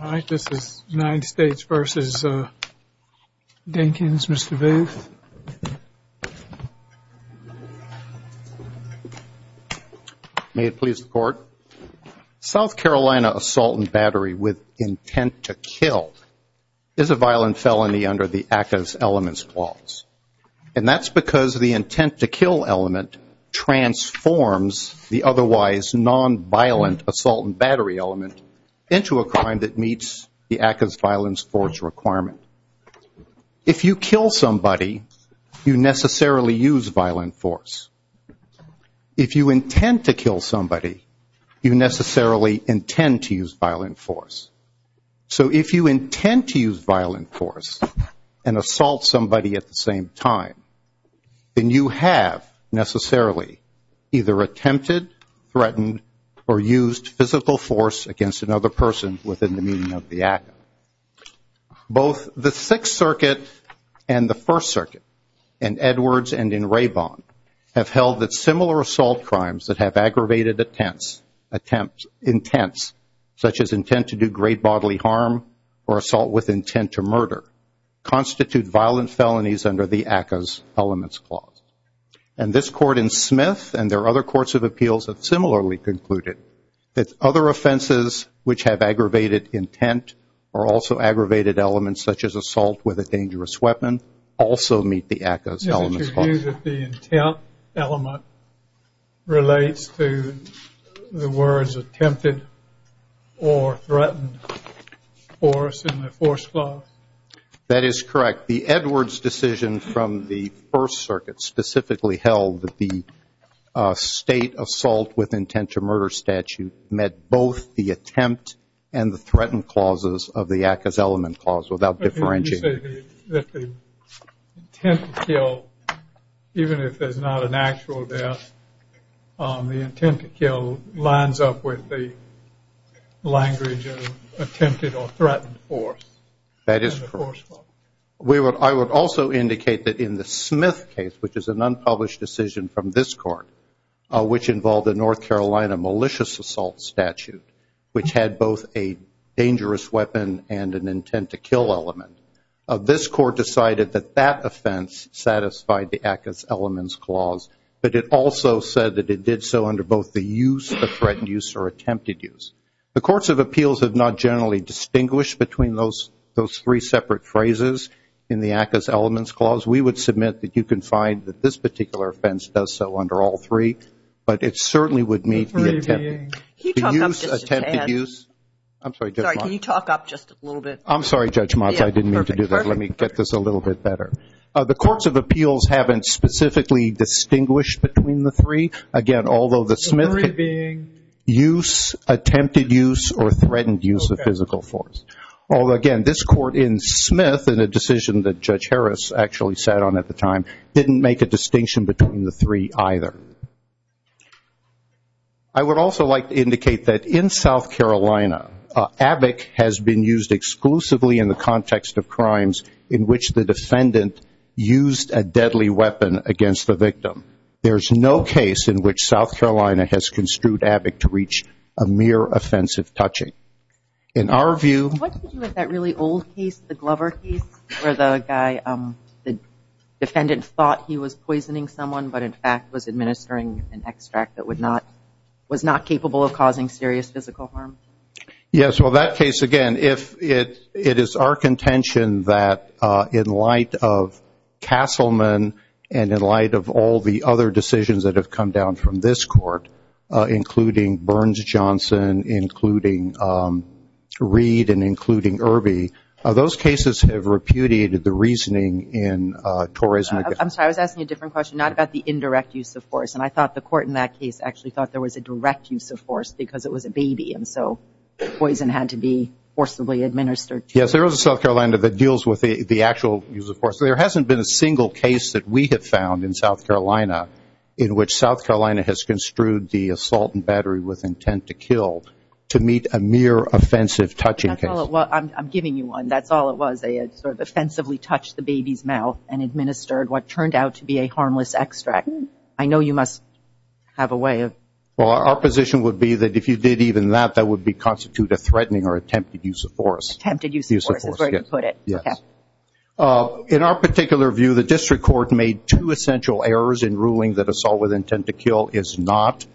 All right, this is United States v. Dinkins, Mr. Booth. May it please the Court? South Carolina assault and battery with intent to kill is a violent felony under the ACCA's elements clause, and that's because the intent to kill element transforms the otherwise nonviolent assault and battery element into a crime that meets the ACCA's violent force requirement. If you kill somebody, you necessarily use violent force. If you intend to kill somebody, you necessarily intend to use violent force. So if you intend to use violent force and assault somebody at the same time, then you have necessarily either attempted, threatened, or used physical force against another person within the meaning of the ACCA. Both the Sixth Circuit and the First Circuit, in Edwards and in Raybon, have held that similar assault crimes that have aggravated intents, such as intent to do great bodily harm or assault with intent to murder, constitute violent felonies under the ACCA's elements clause. And this Court in Smith and their other courts of appeals have similarly concluded that other offenses which have aggravated intent or also aggravated elements, such as assault with a dangerous weapon, also meet the ACCA's elements clause. Do you view that the intent element relates to the words attempted or threatened force in the force clause? That is correct. The Edwards decision from the First Circuit specifically held that the state assault with intent to murder statute met both the attempt and the threatened clauses of the ACCA's element clause without differentiating. So you're saying that the intent to kill, even if there's not an actual death, the intent to kill lines up with the language of attempted or threatened force? That is correct. I would also indicate that in the Smith case, which is an unpublished decision from this Court, which involved a North Carolina malicious assault statute, which had both a dangerous weapon and an intent to kill element, this Court decided that that offense satisfied the ACCA's elements clause, but it also said that it did so under both the use, the threatened use, or attempted use. The courts of appeals have not generally distinguished between those three separate phrases in the ACCA's elements clause. We would submit that you can find that this particular offense does so under all three, but it certainly would meet the use, attempted use. I'm sorry, Judge Motz. Sorry, can you talk up just a little bit? I'm sorry, Judge Motz. I didn't mean to do that. Let me get this a little bit better. The courts of appeals haven't specifically distinguished between the three. Again, although the Smith use, attempted use, or threatened use of physical force. Again, this Court in Smith, in a decision that Judge Harris actually sat on at the time, didn't make a distinction between the three either. I would also like to indicate that in South Carolina, ABIC has been used exclusively in the context of crimes in which the defendant used a deadly weapon against the victim. There's no case in which South Carolina has construed ABIC to reach a mere offensive touching. In our view. What did you do with that really old case, the Glover case, where the defendant thought he was poisoning someone, but in fact was administering an extract that was not capable of causing serious physical harm? Yes, well that case, again, it is our contention that in light of Castleman and in light of all the other decisions that have come down from this Court, including Burns-Johnson, including Reed, and including Irby, those cases have repudiated the reasoning in Torres-McGill. I'm sorry, I was asking you a different question, not about the indirect use of force, and I thought the Court in that case actually thought there was a direct use of force because it was a baby, and so poison had to be forcibly administered. Yes, there is a South Carolina that deals with the actual use of force. There hasn't been a single case that we have found in South Carolina in which South Carolina has construed the assault and battery with intent to kill to meet a mere offensive touching case. I'm giving you one. That's all it was. They had sort of offensively touched the baby's mouth and administered what turned out to be a harmless extract. I know you must have a way of. Well, our position would be that if you did even that, that would constitute a threatening or attempted use of force. Attempted use of force is where you put it. In our particular view, the District Court made two essential errors in ruling that assault with intent to kill is not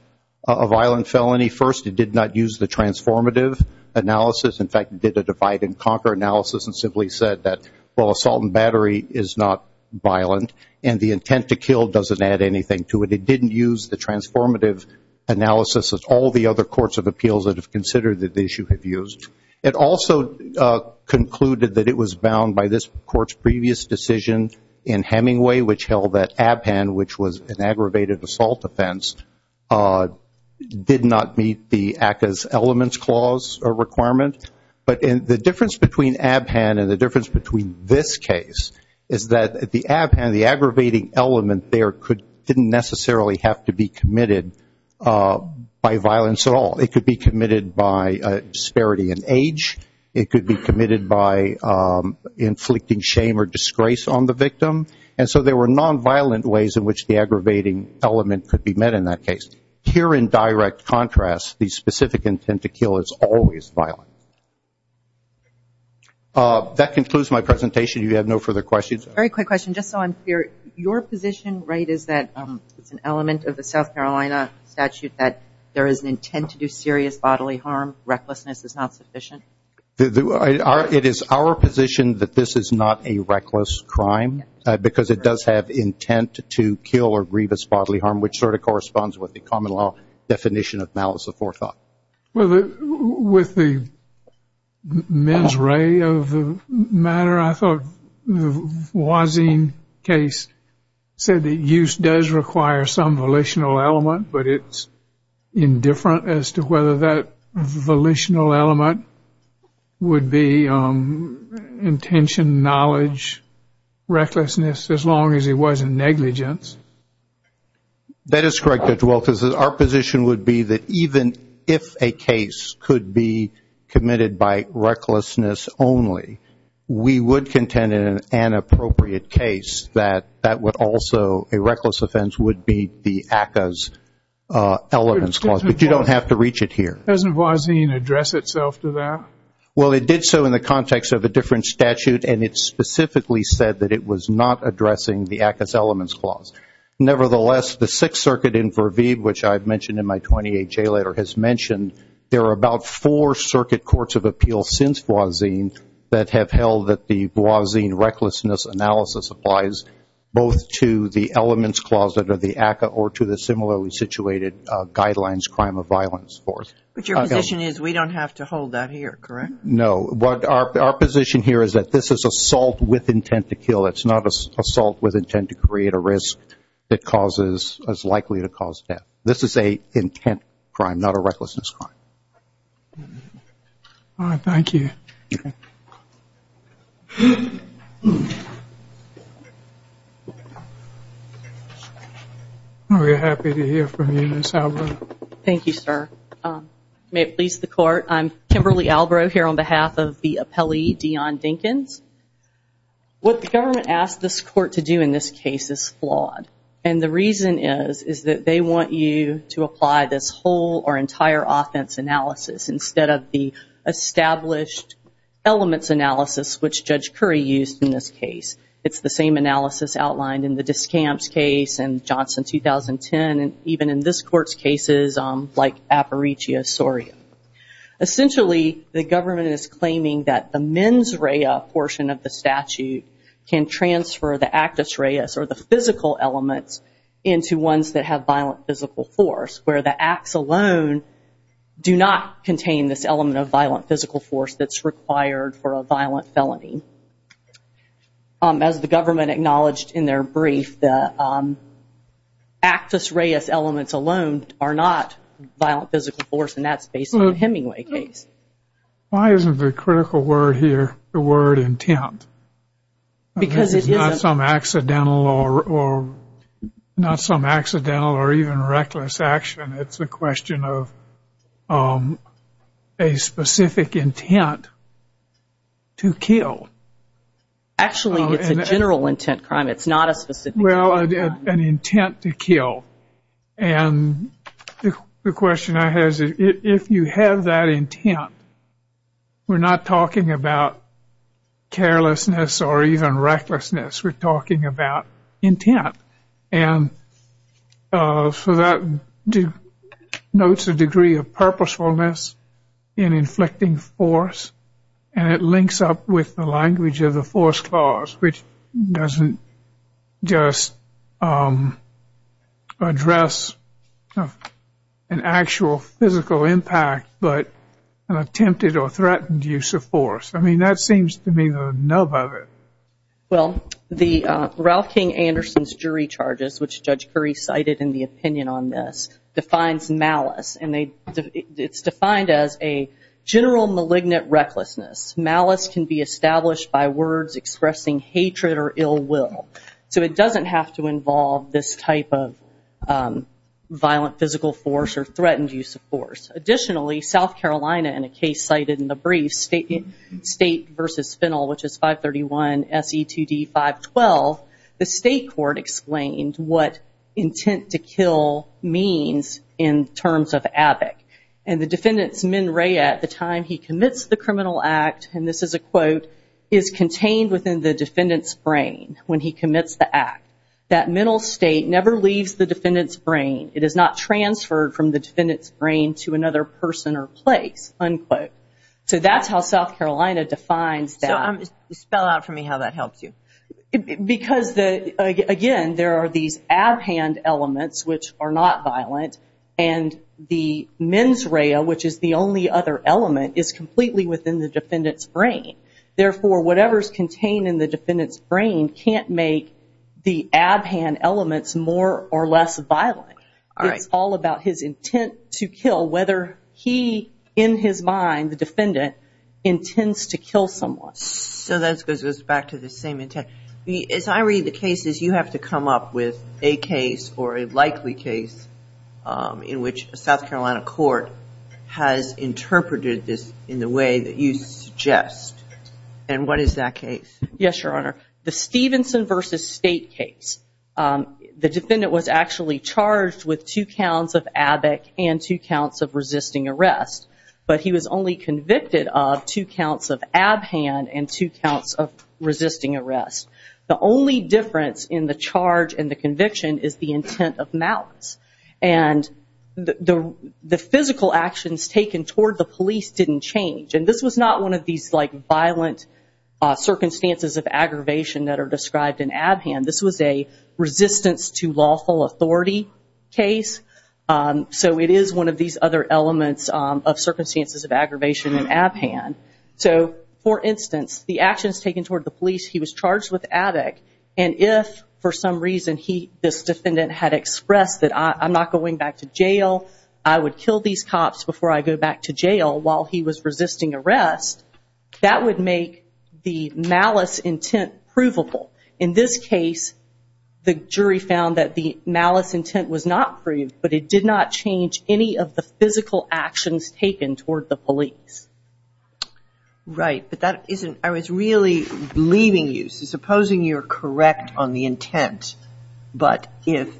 a violent felony. First, it did not use the transformative analysis. In fact, it did a divide-and-conquer analysis and simply said that while assault and battery is not violent and the intent to kill doesn't add anything to it, it didn't use the transformative analysis that all the other courts of appeals that have considered the issue have used. It also concluded that it was bound by this Court's previous decision in Hemingway, which held that Abhan, which was an aggravated assault offense, did not meet the ACCA's elements clause or requirement. But the difference between Abhan and the difference between this case is that the Abhan, the aggravating element there didn't necessarily have to be committed by violence at all. It could be committed by disparity in age. It could be committed by inflicting shame or disgrace on the victim. And so there were nonviolent ways in which the aggravating element could be met in that case. Here, in direct contrast, the specific intent to kill is always violent. That concludes my presentation. Do you have no further questions? Very quick question, just so I'm clear. Your position, right, is that it's an element of the South Carolina statute that there is an intent to do serious bodily harm, recklessness is not sufficient? It is our position that this is not a reckless crime, because it does have intent to kill or grievous bodily harm, which sort of corresponds with the common law definition of malice of forethought. With the mens rea of the matter, I thought the Wazin case said that use does require some volitional element, but it's indifferent as to whether that volitional element would be intention, knowledge, recklessness, as long as it wasn't negligence. That is correct, Judge Walters. Our position would be that even if a case could be committed by recklessness only, we would contend in an inappropriate case that that would also, a reckless offense, would be the ACCA's elements clause, but you don't have to reach it here. Doesn't Wazin address itself to that? Well, it did so in the context of a different statute, and it specifically said that it was not addressing the ACCA's elements clause. Nevertheless, the Sixth Circuit in Verveeb, which I've mentioned in my 28-J letter, has mentioned there are about four circuit courts of appeals since Wazin that have held that the Wazin recklessness analysis applies both to the elements clause under the ACCA or to the similarly situated guidelines crime of violence force. But your position is we don't have to hold that here, correct? No. Our position here is that this is assault with intent to kill. It's not assault with intent to create a risk that's likely to cause death. This is an intent crime, not a recklessness crime. All right. Thank you. We're happy to hear from you, Ms. Albrow. Thank you, sir. May it please the Court, I'm Kimberly Albrow here on behalf of the appellee, Deon Dinkins. What the government asked this court to do in this case is flawed. And the reason is is that they want you to apply this whole or entire offense analysis instead of the established elements analysis, which Judge Curry used in this case. It's the same analysis outlined in the Discamps case and Johnson 2010, and even in this court's cases like Aparicio-Soria. Essentially, the government is claiming that the mens rea portion of the statute can transfer the actus reas or the physical elements into ones that have violent physical force, where the acts alone do not contain this element of violent physical force that's required for a violent felony. As the government acknowledged in their brief, the actus reas elements alone are not violent physical force, and that's based on the Hemingway case. Why isn't the critical word here the word intent? Because it isn't. It's not some accidental or even reckless action. It's a question of a specific intent to kill. Actually, it's a general intent crime. It's not a specific intent crime. Well, an intent to kill. And the question I have is if you have that intent, we're not talking about carelessness or even recklessness. We're talking about intent. And so that denotes a degree of purposefulness in inflicting force, and it links up with the language of the force clause, which doesn't just address an actual physical impact but an attempted or threatened use of force. I mean, that seems to me the nub of it. Well, the Ralph King Anderson's jury charges, which Judge Curry cited in the opinion on this, defines malice, and it's defined as a general malignant recklessness. Malice can be established by words expressing hatred or ill will. So it doesn't have to involve this type of violent physical force or threatened use of force. Additionally, South Carolina, in a case cited in the brief, State v. Fennel, which is 531 S.E.2.D. 512, the state court explained what intent to kill means in terms of ABIC. And the defendant's menrea at the time he commits the criminal act, and this is a quote, is contained within the defendant's brain when he commits the act. That mental state never leaves the defendant's brain. It is not transferred from the defendant's brain to another person or place, unquote. So that's how South Carolina defines that. Spell out for me how that helps you. Because, again, there are these abhand elements which are not violent, and the mensrea, which is the only other element, is completely within the defendant's brain. Therefore, whatever is contained in the defendant's brain can't make the abhand elements more or less violent. It's all about his intent to kill, whether he, in his mind, the defendant, intends to kill someone. So that goes back to the same intent. As I read the cases, you have to come up with a case or a likely case in which a South Carolina court has interpreted this in the way that you suggest. And what is that case? Yes, Your Honor. The Stevenson v. State case. The defendant was actually charged with two counts of ABIC and two counts of resisting arrest. But he was only convicted of two counts of abhand and two counts of resisting arrest. The only difference in the charge and the conviction is the intent of malice. And the physical actions taken toward the police didn't change. And this was not one of these violent circumstances of aggravation that are described in abhand. This was a resistance to lawful authority case. So it is one of these other elements of circumstances of aggravation in abhand. So, for instance, the actions taken toward the police, he was charged with ABIC. And if, for some reason, this defendant had expressed that I'm not going back to jail, I would kill these cops before I go back to jail while he was resisting arrest, that would make the malice intent provable. In this case, the jury found that the malice intent was not proved, but it did not change any of the physical actions taken toward the police. Right. But that isn't – I was really believing you. So supposing you're correct on the intent, but that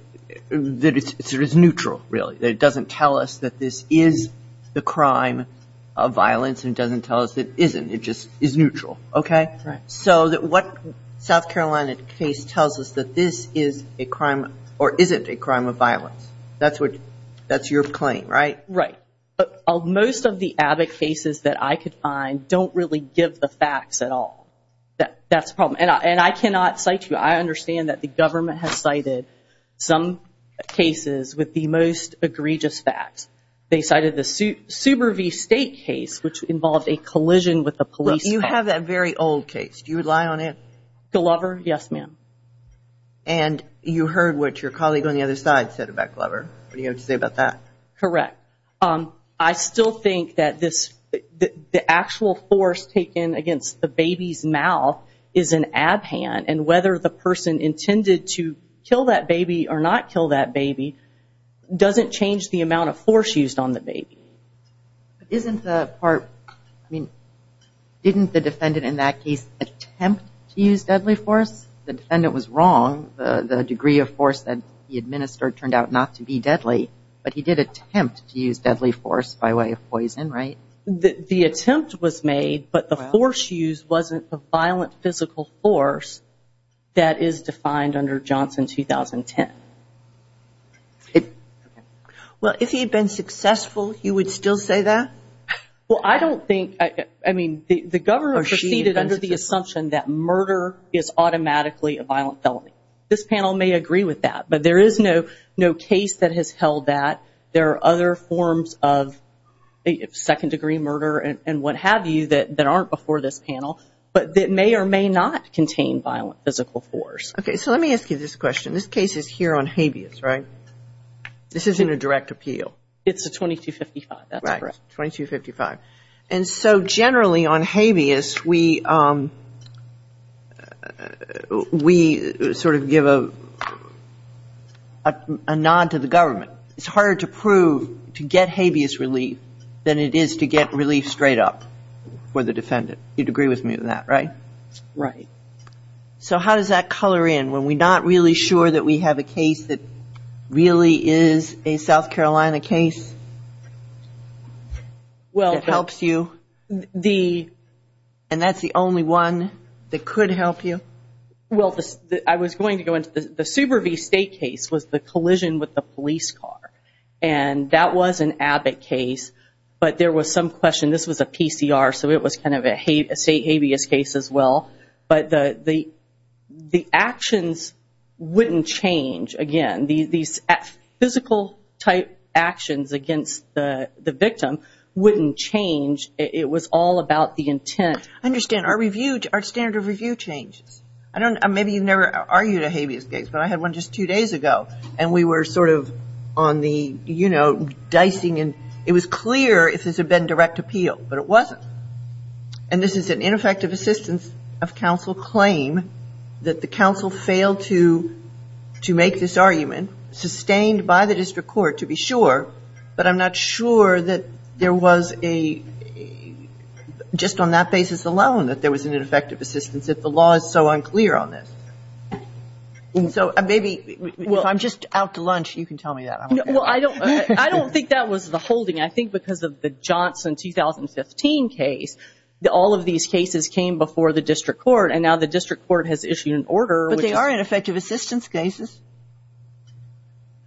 it's neutral, really, that it doesn't tell us that this is the crime of violence and doesn't tell us it isn't. It just is neutral. Okay? Right. So what South Carolina case tells us that this is a crime or isn't a crime of violence. That's your claim, right? Right. But most of the ABIC cases that I could find don't really give the facts at all. That's the problem. And I cannot cite you. I understand that the government has cited some cases with the most egregious facts. They cited the Subaru v. State case, which involved a collision with a police car. You have that very old case. Do you rely on it? Glover, yes, ma'am. And you heard what your colleague on the other side said about Glover. What do you have to say about that? Correct. I still think that the actual force taken against the baby's mouth is an abhand, and whether the person intended to kill that baby or not kill that baby doesn't change the amount of force used on the baby. Isn't the part, I mean, didn't the defendant in that case attempt to use deadly force? The defendant was wrong. The degree of force that he administered turned out not to be deadly, but he did attempt to use deadly force by way of poison, right? The attempt was made, but the force used wasn't the violent physical force that is defined under Johnson 2010. Well, if he had been successful, he would still say that? Well, I don't think, I mean, the government proceeded under the assumption that murder is automatically a violent felony. This panel may agree with that, but there is no case that has held that. There are other forms of second-degree murder and what have you that aren't before this panel, but that may or may not contain violent physical force. Okay, so let me ask you this question. This case is here on habeas, right? This isn't a direct appeal. It's a 2255, that's correct. Right, 2255. And so generally on habeas, we sort of give a nod to the government. It's harder to prove to get habeas relief than it is to get relief straight up for the defendant. You'd agree with me on that, right? Right. So how does that color in when we're not really sure that we have a case that really is a South Carolina case? Well, it helps you. And that's the only one that could help you? Well, I was going to go into the Subaru v. State case was the collision with the police car, and that was an Abbott case, but there was some question, this was a PCR, so it was kind of a State habeas case as well. But the actions wouldn't change. Again, these physical-type actions against the victim wouldn't change. It was all about the intent. I understand. Our standard of review changes. Maybe you've never argued a habeas case, but I had one just two days ago, and we were sort of on the, you know, dicing, and it was clear if this had been direct appeal, but it wasn't. And this is an ineffective assistance of counsel claim that the counsel failed to make this argument, sustained by the district court to be sure, but I'm not sure that there was a just on that basis alone that there was an ineffective assistance, if the law is so unclear on this. So maybe if I'm just out to lunch, you can tell me that. Well, I don't think that was the holding. I think because of the Johnson 2015 case, all of these cases came before the district court, and now the district court has issued an order. But they are ineffective assistance cases,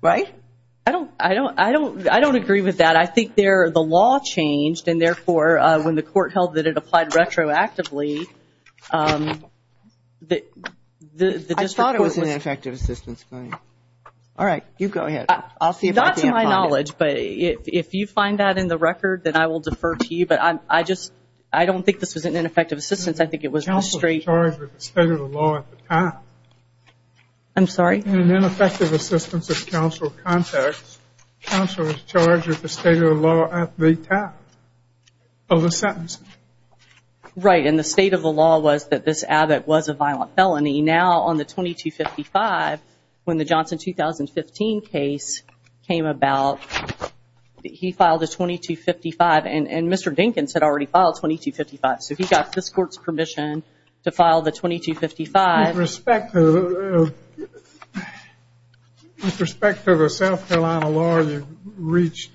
right? I don't agree with that. I think the law changed, and, therefore, when the court held that it applied retroactively, the district court was. I thought it was an ineffective assistance claim. All right. You go ahead. I'll see if I can find it. Not to my knowledge, but if you find that in the record, then I will defer to you. But I just don't think this was an ineffective assistance. I think it was just straight. Counsel was charged with the state of the law at the time. I'm sorry? In an ineffective assistance of counsel context, counsel was charged with the state of the law at the time of the sentence. Right. And the state of the law was that this addict was a violent felony. Now on the 2255, when the Johnson 2015 case came about, he filed a 2255, and Mr. Dinkins had already filed 2255. So he got this court's permission to file the 2255. With respect to the South Carolina law, you've reached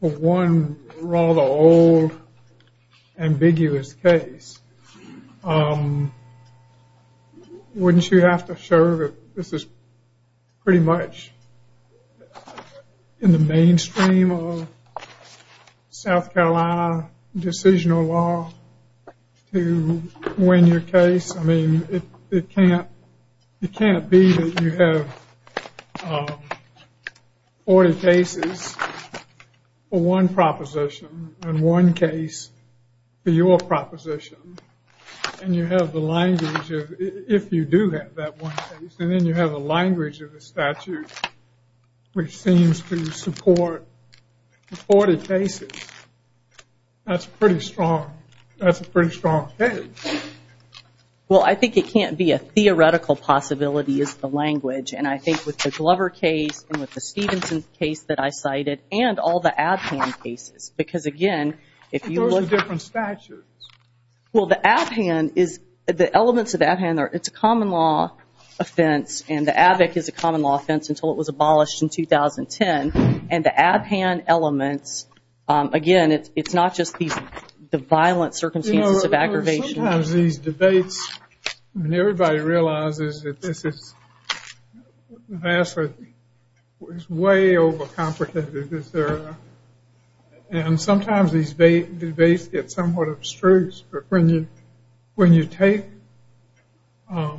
one rather old, ambiguous case. Wouldn't you have to show that this is pretty much in the mainstream of South Carolina decisional law to win your case? I mean, it can't be that you have 40 cases for one proposition and one case for your proposition. And you have the language, if you do have that one case, and then you have the language of the statute which seems to support the 40 cases. That's a pretty strong case. Well, I think it can't be a theoretical possibility, is the language. And I think with the Glover case and with the Stevenson case that I cited, and all the Abhan cases, because, again, if you look at it. But those are different statutes. Well, the Abhan is, the elements of the Abhan, it's a common law offense, and the Abic is a common law offense until it was abolished in 2010. And the Abhan elements, again, it's not just the violent circumstances of aggravation. You know, sometimes these debates, and everybody realizes that this is vastly, way over complicated. And sometimes these debates get somewhat abstruse. But when you take a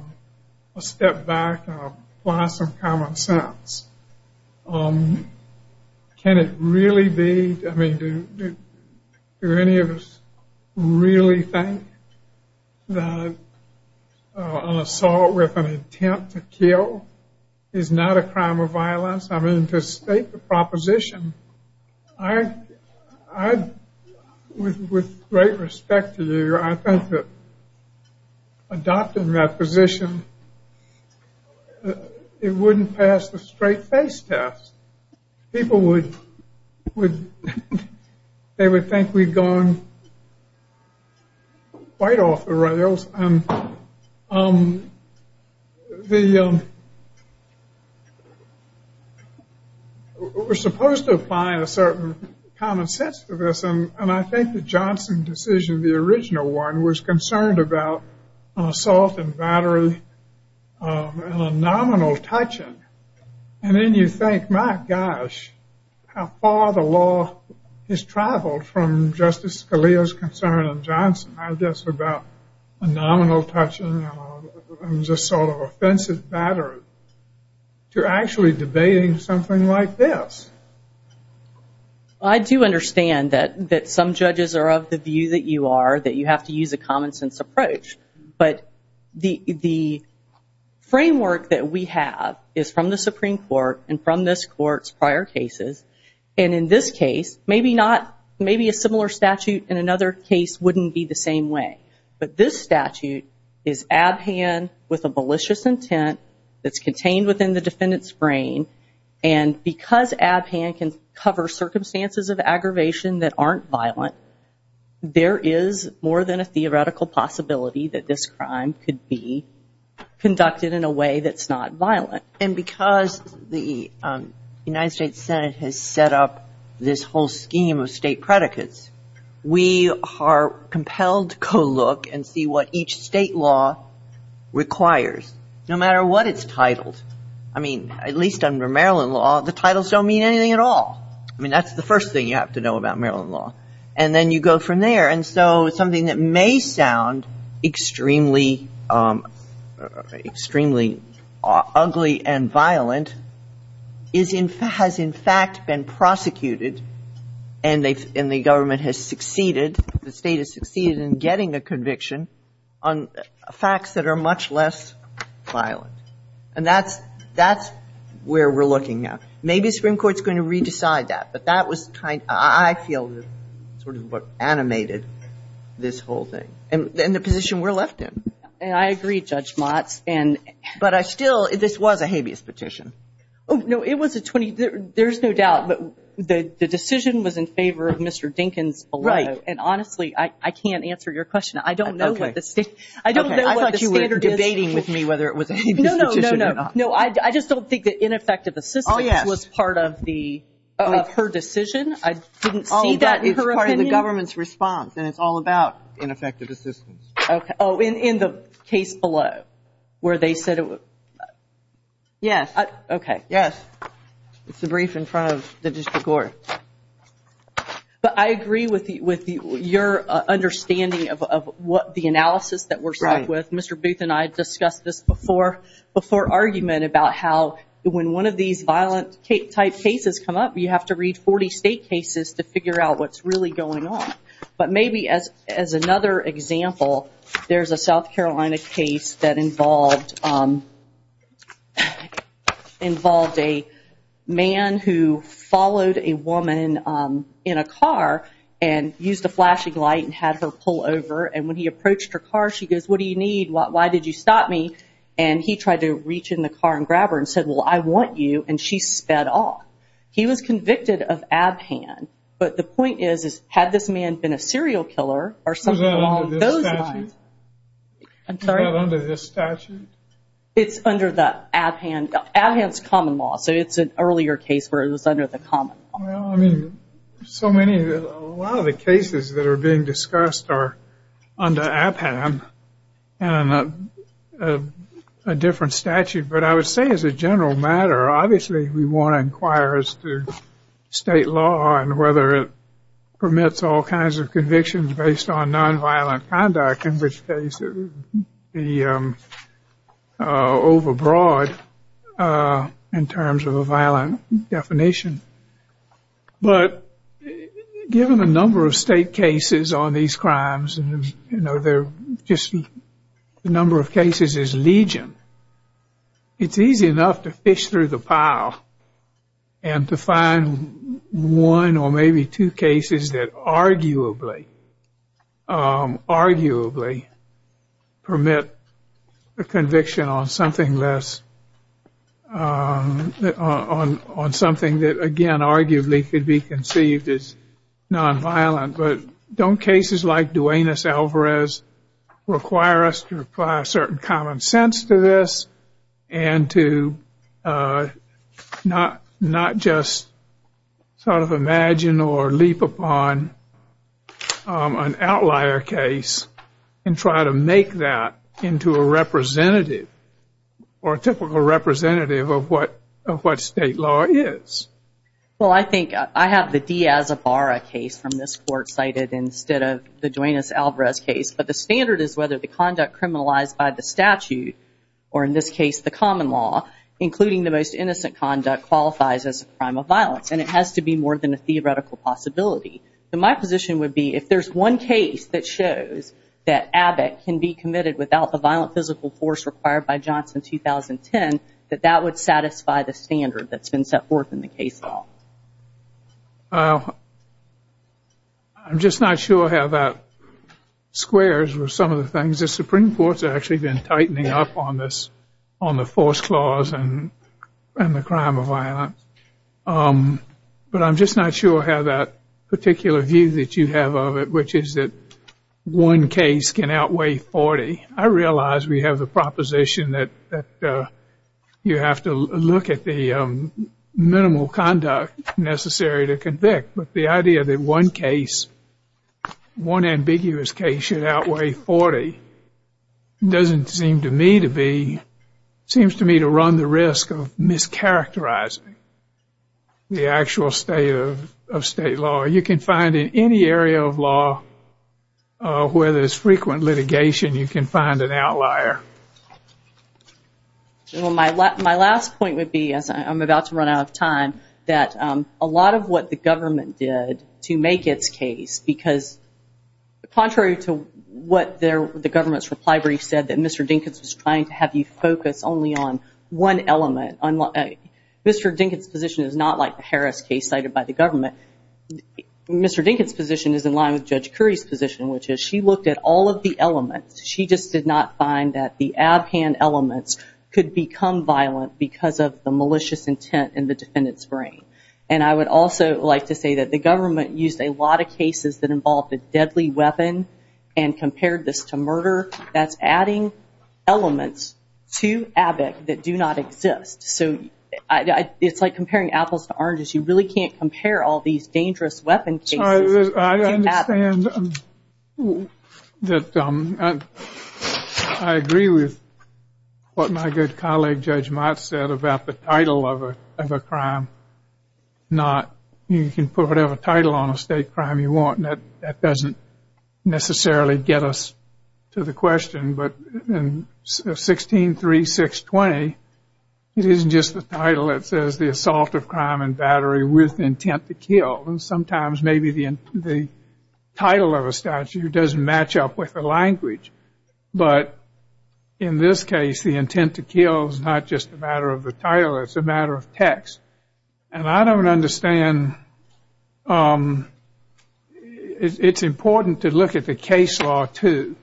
step back and apply some common sense, can it really be? I mean, do any of us really think that an assault with an intent to kill is not a crime of violence? I mean, to state the proposition, I, with great respect to you, I think that adopting that position, it wouldn't pass the straight face test. People would, they would think we'd gone quite off the rails. And we're supposed to apply a certain common sense to this, and I think the Johnson decision, the original one, was concerned about assault and battery and a nominal touching. And then you think, my gosh, how far the law has traveled from Justice Scalia's concern of Johnson, I guess, about a nominal touching and just sort of offensive battery, to actually debating something like this. I do understand that some judges are of the view that you are, that you have to use a common sense approach. But the framework that we have is from the Supreme Court and from this Court's prior cases. And in this case, maybe not, maybe a similar statute in another case wouldn't be the same way. But this statute is ab hand with a malicious intent that's contained within the defendant's brain. And because ab hand can cover circumstances of aggravation that aren't violent, there is more than a theoretical possibility that this crime could be conducted in a way that's not violent. And because the United States Senate has set up this whole scheme of state predicates, we are compelled to go look and see what each state law requires, no matter what it's titled. I mean, at least under Maryland law, the titles don't mean anything at all. I mean, that's the first thing you have to know about Maryland law. And then you go from there. And so something that may sound extremely ugly and violent has in fact been prosecuted and the government has succeeded, the state has succeeded in getting a conviction on facts that are much less violent. And that's where we're looking now. Maybe the Supreme Court is going to re-decide that. But that was kind of, I feel, sort of what animated this whole thing. And the position we're left in. And I agree, Judge Motz. But I still, this was a habeas petition. No, it was a 20, there's no doubt. But the decision was in favor of Mr. Dinkins. Right. And honestly, I can't answer your question. I don't know what the standard is. I thought you were debating with me whether it was a habeas petition or not. No, no, no, no. I just don't think that ineffective assistance was part of the. Of her decision? I didn't see that in her opinion. Oh, that is part of the government's response. And it's all about ineffective assistance. Okay. Oh, in the case below where they said it was. Yes. Okay. Yes. It's the brief in front of the district court. But I agree with your understanding of what the analysis that we're stuck with. Mr. Booth and I discussed this before argument about how when one of these violent type cases come up, you have to read 40 state cases to figure out what's really going on. But maybe as another example, there's a South Carolina case that involved a man who followed a woman in a car and used a flashing light and had her pull over. And when he approached her car, she goes, what do you need? Why did you stop me? And he tried to reach in the car and grab her and said, well, I want you. And she sped off. He was convicted of abhand. But the point is, had this man been a serial killer or something along those lines. Was that under this statute? I'm sorry? Was that under this statute? It's under the abhand. Abhand's common law. So it's an earlier case where it was under the common law. Well, I mean, a lot of the cases that are being discussed are under abhand and a different statute. But I would say as a general matter, obviously, we want to inquire as to state law and whether it permits all kinds of convictions based on nonviolent conduct, in which case it would be overbroad in terms of a violent definition. But given the number of state cases on these crimes, just the number of cases is legion, it's easy enough to fish through the pile and to find one or maybe two cases that arguably permit a conviction on something less, on something that, again, arguably could be conceived as nonviolent. But don't cases like Duenas-Alvarez require us to apply a certain common sense to this and to not just sort of imagine or leap upon an outlier case and try to make that into a representative or a typical representative of what state law is? Well, I think I have the Diaz-Ibarra case from this court cited instead of the Duenas-Alvarez case. But the standard is whether the conduct criminalized by the statute or, in this case, the common law, including the most innocent conduct, qualifies as a crime of violence. And it has to be more than a theoretical possibility. So my position would be if there's one case that shows that Abbott can be committed without the violent physical force required by Johnson 2010, that that would satisfy the standard that's been set forth in the case law. Well, I'm just not sure how that squares with some of the things. The Supreme Court's actually been tightening up on the force clause and the crime of violence. But I'm just not sure how that particular view that you have of it, which is that one case can outweigh 40. I realize we have the proposition that you have to look at the minimal conduct necessary to convict. But the idea that one case, one ambiguous case, should outweigh 40 doesn't seem to me to be, seems to me to run the risk of mischaracterizing the actual state of state law. You can find in any area of law where there's frequent litigation, you can find an outlier. My last point would be, as I'm about to run out of time, that a lot of what the government did to make its case, because contrary to what the government's reply brief said, that Mr. Dinkins was trying to have you focus only on one element. Mr. Dinkins' position is not like the Harris case cited by the government. Mr. Dinkins' position is in line with Judge Curry's position, which is she looked at all of the elements. She just did not find that the ab-hand elements could become violent because of the malicious intent in the defendant's brain. And I would also like to say that the government used a lot of cases that involved a deadly weapon and compared this to murder. That's adding elements to ABIC that do not exist. So it's like comparing apples to oranges. You really can't compare all these dangerous weapon cases to ABIC. I understand that I agree with what my good colleague Judge Mott said about the title of a crime. You can put whatever title on a state crime you want, and that doesn't necessarily get us to the question. But in 163620, it isn't just the title. It says the assault of crime and battery with intent to kill. And sometimes maybe the title of a statute doesn't match up with the language. But in this case, the intent to kill is not just a matter of the title. It's a matter of text. And I don't understand. It's important to look at the case law, too.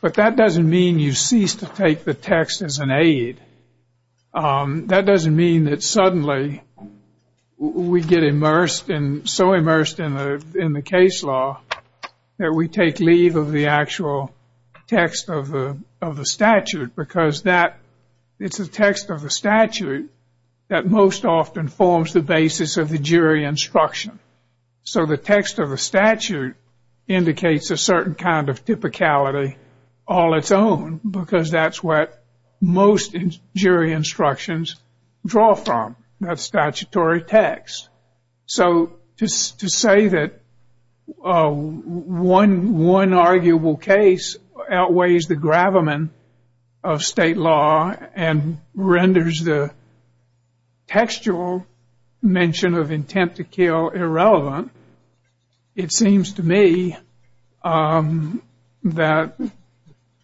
But that doesn't mean you cease to take the text as an aid. That doesn't mean that suddenly we get so immersed in the case law that we take leave of the actual text of the statute. Because it's the text of the statute that most often forms the basis of the jury instruction. So the text of the statute indicates a certain kind of typicality all its own, because that's what most jury instructions draw from, that statutory text. So to say that one arguable case outweighs the gravamen of state law and renders the textual mention of intent to kill irrelevant, it seems to me that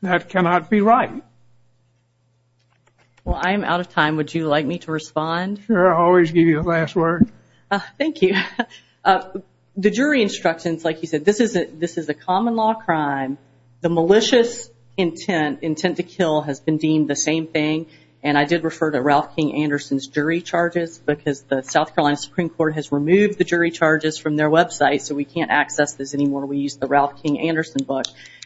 that cannot be right. Well, I'm out of time. Would you like me to respond? Sure, I'll always give you the last word. Thank you. The jury instructions, like you said, this is a common law crime. The malicious intent, intent to kill, has been deemed the same thing. And I did refer to Ralph King Anderson's jury charges, because the South Carolina Supreme Court has removed the jury charges from their website, so we can't access this anymore. We use the Ralph King Anderson book.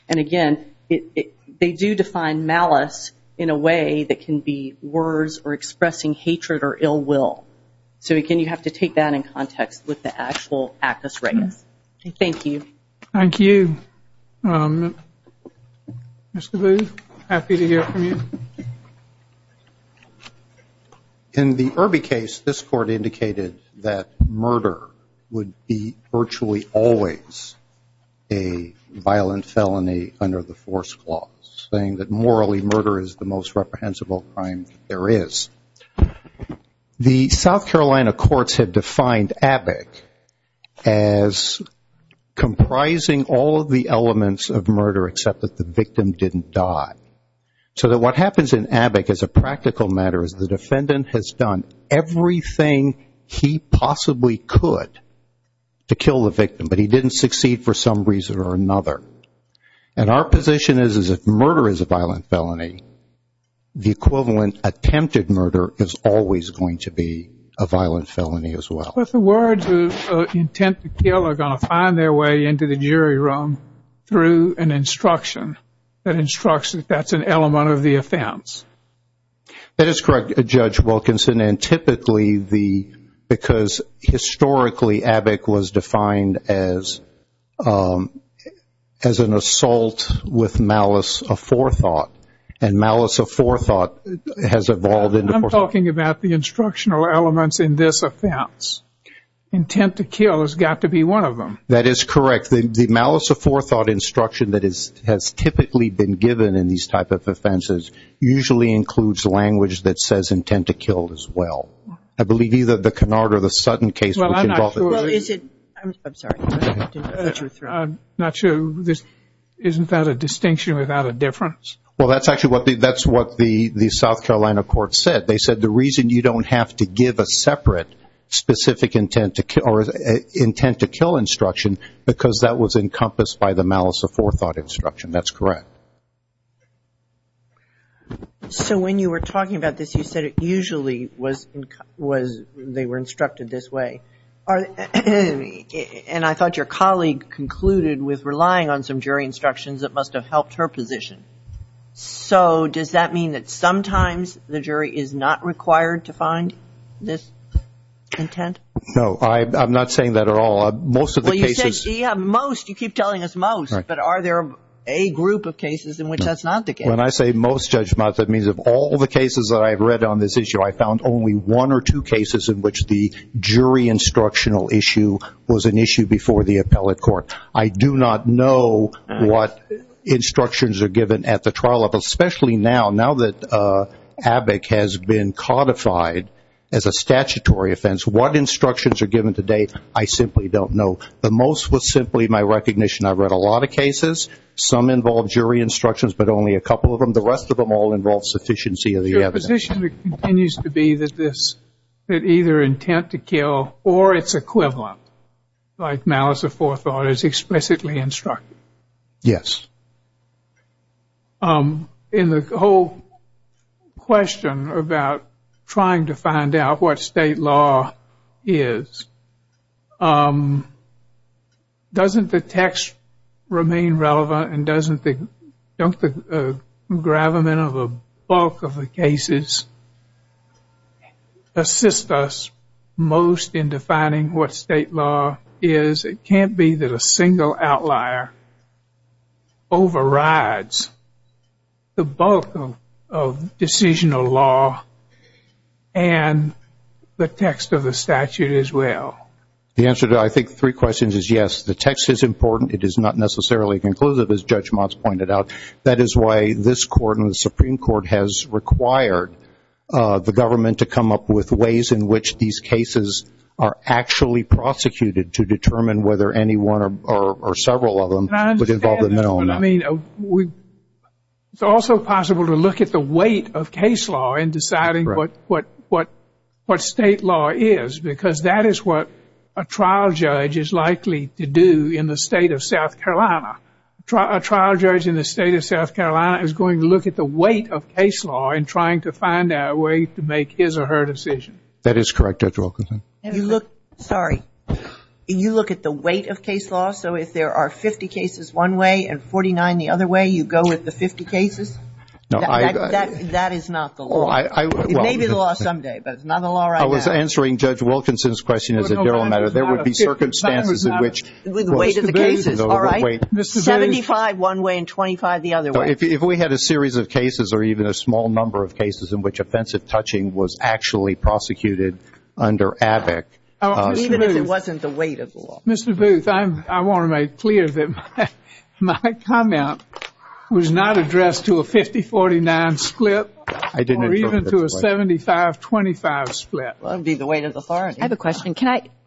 And, again, they do define malice in a way that can be words or expressing hatred or ill will. So, again, you have to take that in context with the actual actus regus. Thank you. Thank you. Mr. Booth, happy to hear from you. Thank you. In the Irby case, this court indicated that murder would be virtually always a violent felony under the force clause, saying that morally murder is the most reprehensible crime there is. The South Carolina courts have defined ABIC as comprising all of the elements of murder, except that the victim didn't die. So that what happens in ABIC, as a practical matter, is the defendant has done everything he possibly could to kill the victim, but he didn't succeed for some reason or another. And our position is, is if murder is a violent felony, the equivalent attempted murder is always going to be a violent felony as well. But the words of intent to kill are going to find their way into the jury room through an instruction that instructs that that's an element of the offense. That is correct, Judge Wilkinson, and typically because historically ABIC was defined as an assault with malice of forethought, and malice of forethought has evolved. I'm talking about the instructional elements in this offense. Intent to kill has got to be one of them. That is correct. The malice of forethought instruction that has typically been given in these types of offenses usually includes language that says intent to kill as well. I believe either the Cunard or the Sutton case, which involved the- Well, I'm not sure. I'm sorry. I'm not sure. Isn't that a distinction without a difference? Well, that's actually what the South Carolina courts said. They said the reason you don't have to give a separate specific intent to kill instruction because that was encompassed by the malice of forethought instruction. That's correct. So when you were talking about this, you said it usually was they were instructed this way. And I thought your colleague concluded with relying on some jury instructions that must have helped her position. So does that mean that sometimes the jury is not required to find this intent? No, I'm not saying that at all. Most of the cases- Well, you said most. You keep telling us most. But are there a group of cases in which that's not the case? When I say most judgments, that means of all the cases that I've read on this issue, I found only one or two cases in which the jury instructional issue was an issue before the appellate court. I do not know what instructions are given at the trial level, especially now that Abbott has been codified as a statutory offense. What instructions are given today, I simply don't know. The most was simply my recognition. I've read a lot of cases. Some involve jury instructions, but only a couple of them. The rest of them all involve sufficiency of the evidence. Your position continues to be that either intent to kill or its equivalent, like malice of forethought, is explicitly instructed. Yes. In the whole question about trying to find out what state law is, doesn't the text remain relevant and doesn't the gravamen of a bulk of the cases assist us most in defining what state law is? It can't be that a single outlier overrides the bulk of decisional law and the text of the statute as well. The answer to, I think, three questions is yes. The text is important. It is not necessarily conclusive, as Judge Motz pointed out. That is why this Court and the Supreme Court has required the government to come up with ways in which these cases are actually prosecuted to determine whether anyone or several of them would involve the minimum. It's also possible to look at the weight of case law in deciding what state law is, because that is what a trial judge is likely to do in the state of South Carolina. A trial judge in the state of South Carolina is going to look at the weight of case law in trying to find out a way to make his or her decision. That is correct, Judge Wilkinson. Sorry. You look at the weight of case law? So if there are 50 cases one way and 49 the other way, you go with the 50 cases? No. That is not the law. It may be the law someday, but it's not the law right now. I was answering Judge Wilkinson's question as a general matter. There would be circumstances in which the weight of the cases, all right, 75 one way and 25 the other way. Well, if we had a series of cases or even a small number of cases in which offensive touching was actually prosecuted under AVIC. Even if it wasn't the weight of the law. Mr. Booth, I want to make clear that my comment was not addressed to a 50-49 split or even to a 75-25 split. Well, it would be the weight of the authority. I have a question.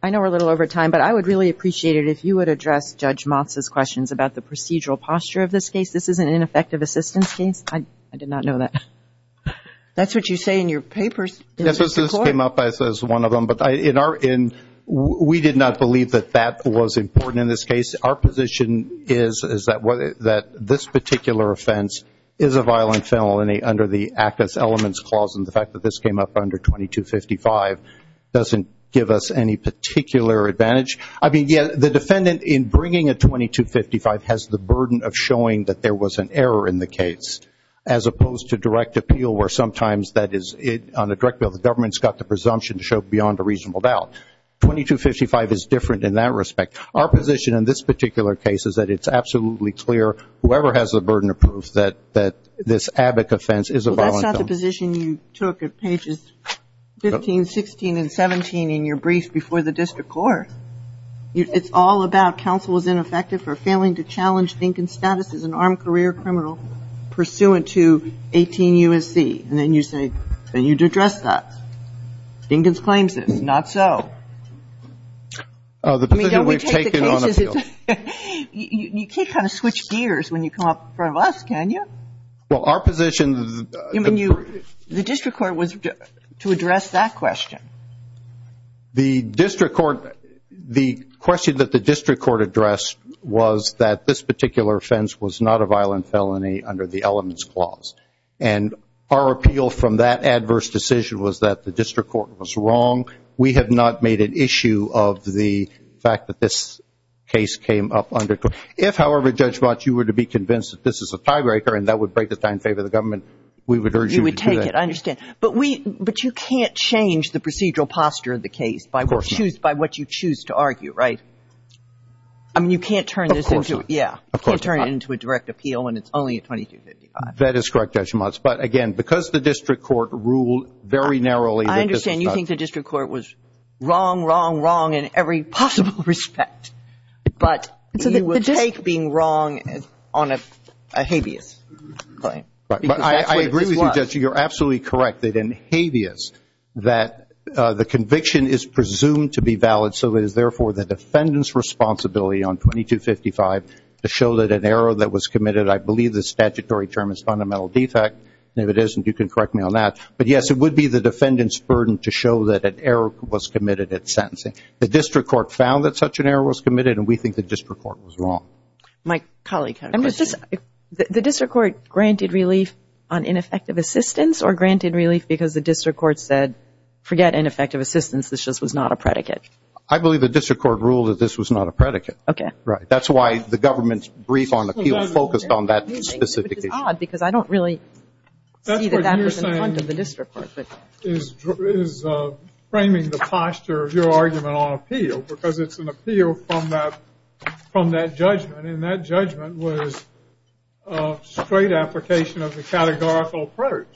I know we're a little over time, but I would really appreciate it if you would address Judge Motz's questions about the procedural posture of this case. This is an ineffective assistance case? I did not know that. That's what you say in your papers. This came up as one of them, but we did not believe that that was important in this case. Our position is that this particular offense is a violent felony under the Act as Elements Clause, and the fact that this came up under 2255 doesn't give us any particular advantage. I mean, yes, the defendant in bringing a 2255 has the burden of showing that there was an error in the case, as opposed to direct appeal where sometimes that is on a direct bill. The government's got the presumption to show beyond a reasonable doubt. 2255 is different in that respect. Our position in this particular case is that it's absolutely clear, whoever has the burden of proof, that this AVIC offense is a violent felony. That's not the position you took at pages 15, 16, and 17 in your brief before the district court. It's all about counsel is ineffective for failing to challenge Dinkins' status as an armed career criminal pursuant to 18 U.S.C. And then you say, then you'd address that. Dinkins claims this. Not so. I mean, don't we take the cases? You can't kind of switch gears when you come up in front of us, can you? Well, our position the The district court was to address that question. The district court, the question that the district court addressed was that this particular offense was not a violent felony under the elements clause. And our appeal from that adverse decision was that the district court was wrong. We have not made an issue of the fact that this case came up under court. If, however, Judge Motz, you were to be convinced that this is a tiebreaker and that would break the time and favor of the government, we would urge you to do that. You would take it. I understand. But you can't change the procedural posture of the case by what you choose to argue, right? I mean, you can't turn this into a direct appeal when it's only a 2255. That is correct, Judge Motz. But, again, because the district court ruled very narrowly that this was not I understand you think the district court was wrong, wrong, wrong in every possible respect. But you would take being wrong on a habeas claim. I agree with you, Judge. You're absolutely correct that in habeas that the conviction is presumed to be valid, so it is therefore the defendant's responsibility on 2255 to show that an error that was committed, I believe the statutory term is fundamental defect, and if it isn't, you can correct me on that. But, yes, it would be the defendant's burden to show that an error was committed at sentencing. The district court found that such an error was committed, and we think the district court was wrong. My colleague had a question. The district court granted relief on ineffective assistance or granted relief because the district court said, forget ineffective assistance, this just was not a predicate? I believe the district court ruled that this was not a predicate. Okay. Right. That's why the government's brief on appeal focused on that specific issue. Which is odd because I don't really see that that was in front of the district court. It is framing the posture of your argument on appeal because it's an appeal from that judgment, and that judgment was a straight application of the categorical approach.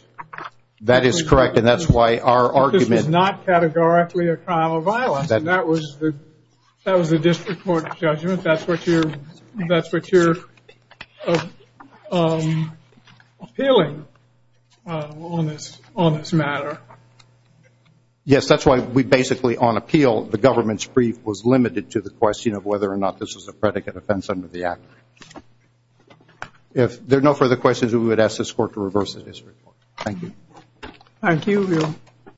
That is correct, and that's why our argument This was not categorically a crime of violence, and that was the district court's judgment. I don't think that's what you're appealing on this matter. Yes, that's why we basically, on appeal, the government's brief was limited to the question of whether or not this was a predicate offense under the act. If there are no further questions, we would ask this court to reverse the district court. Thank you. Thank you.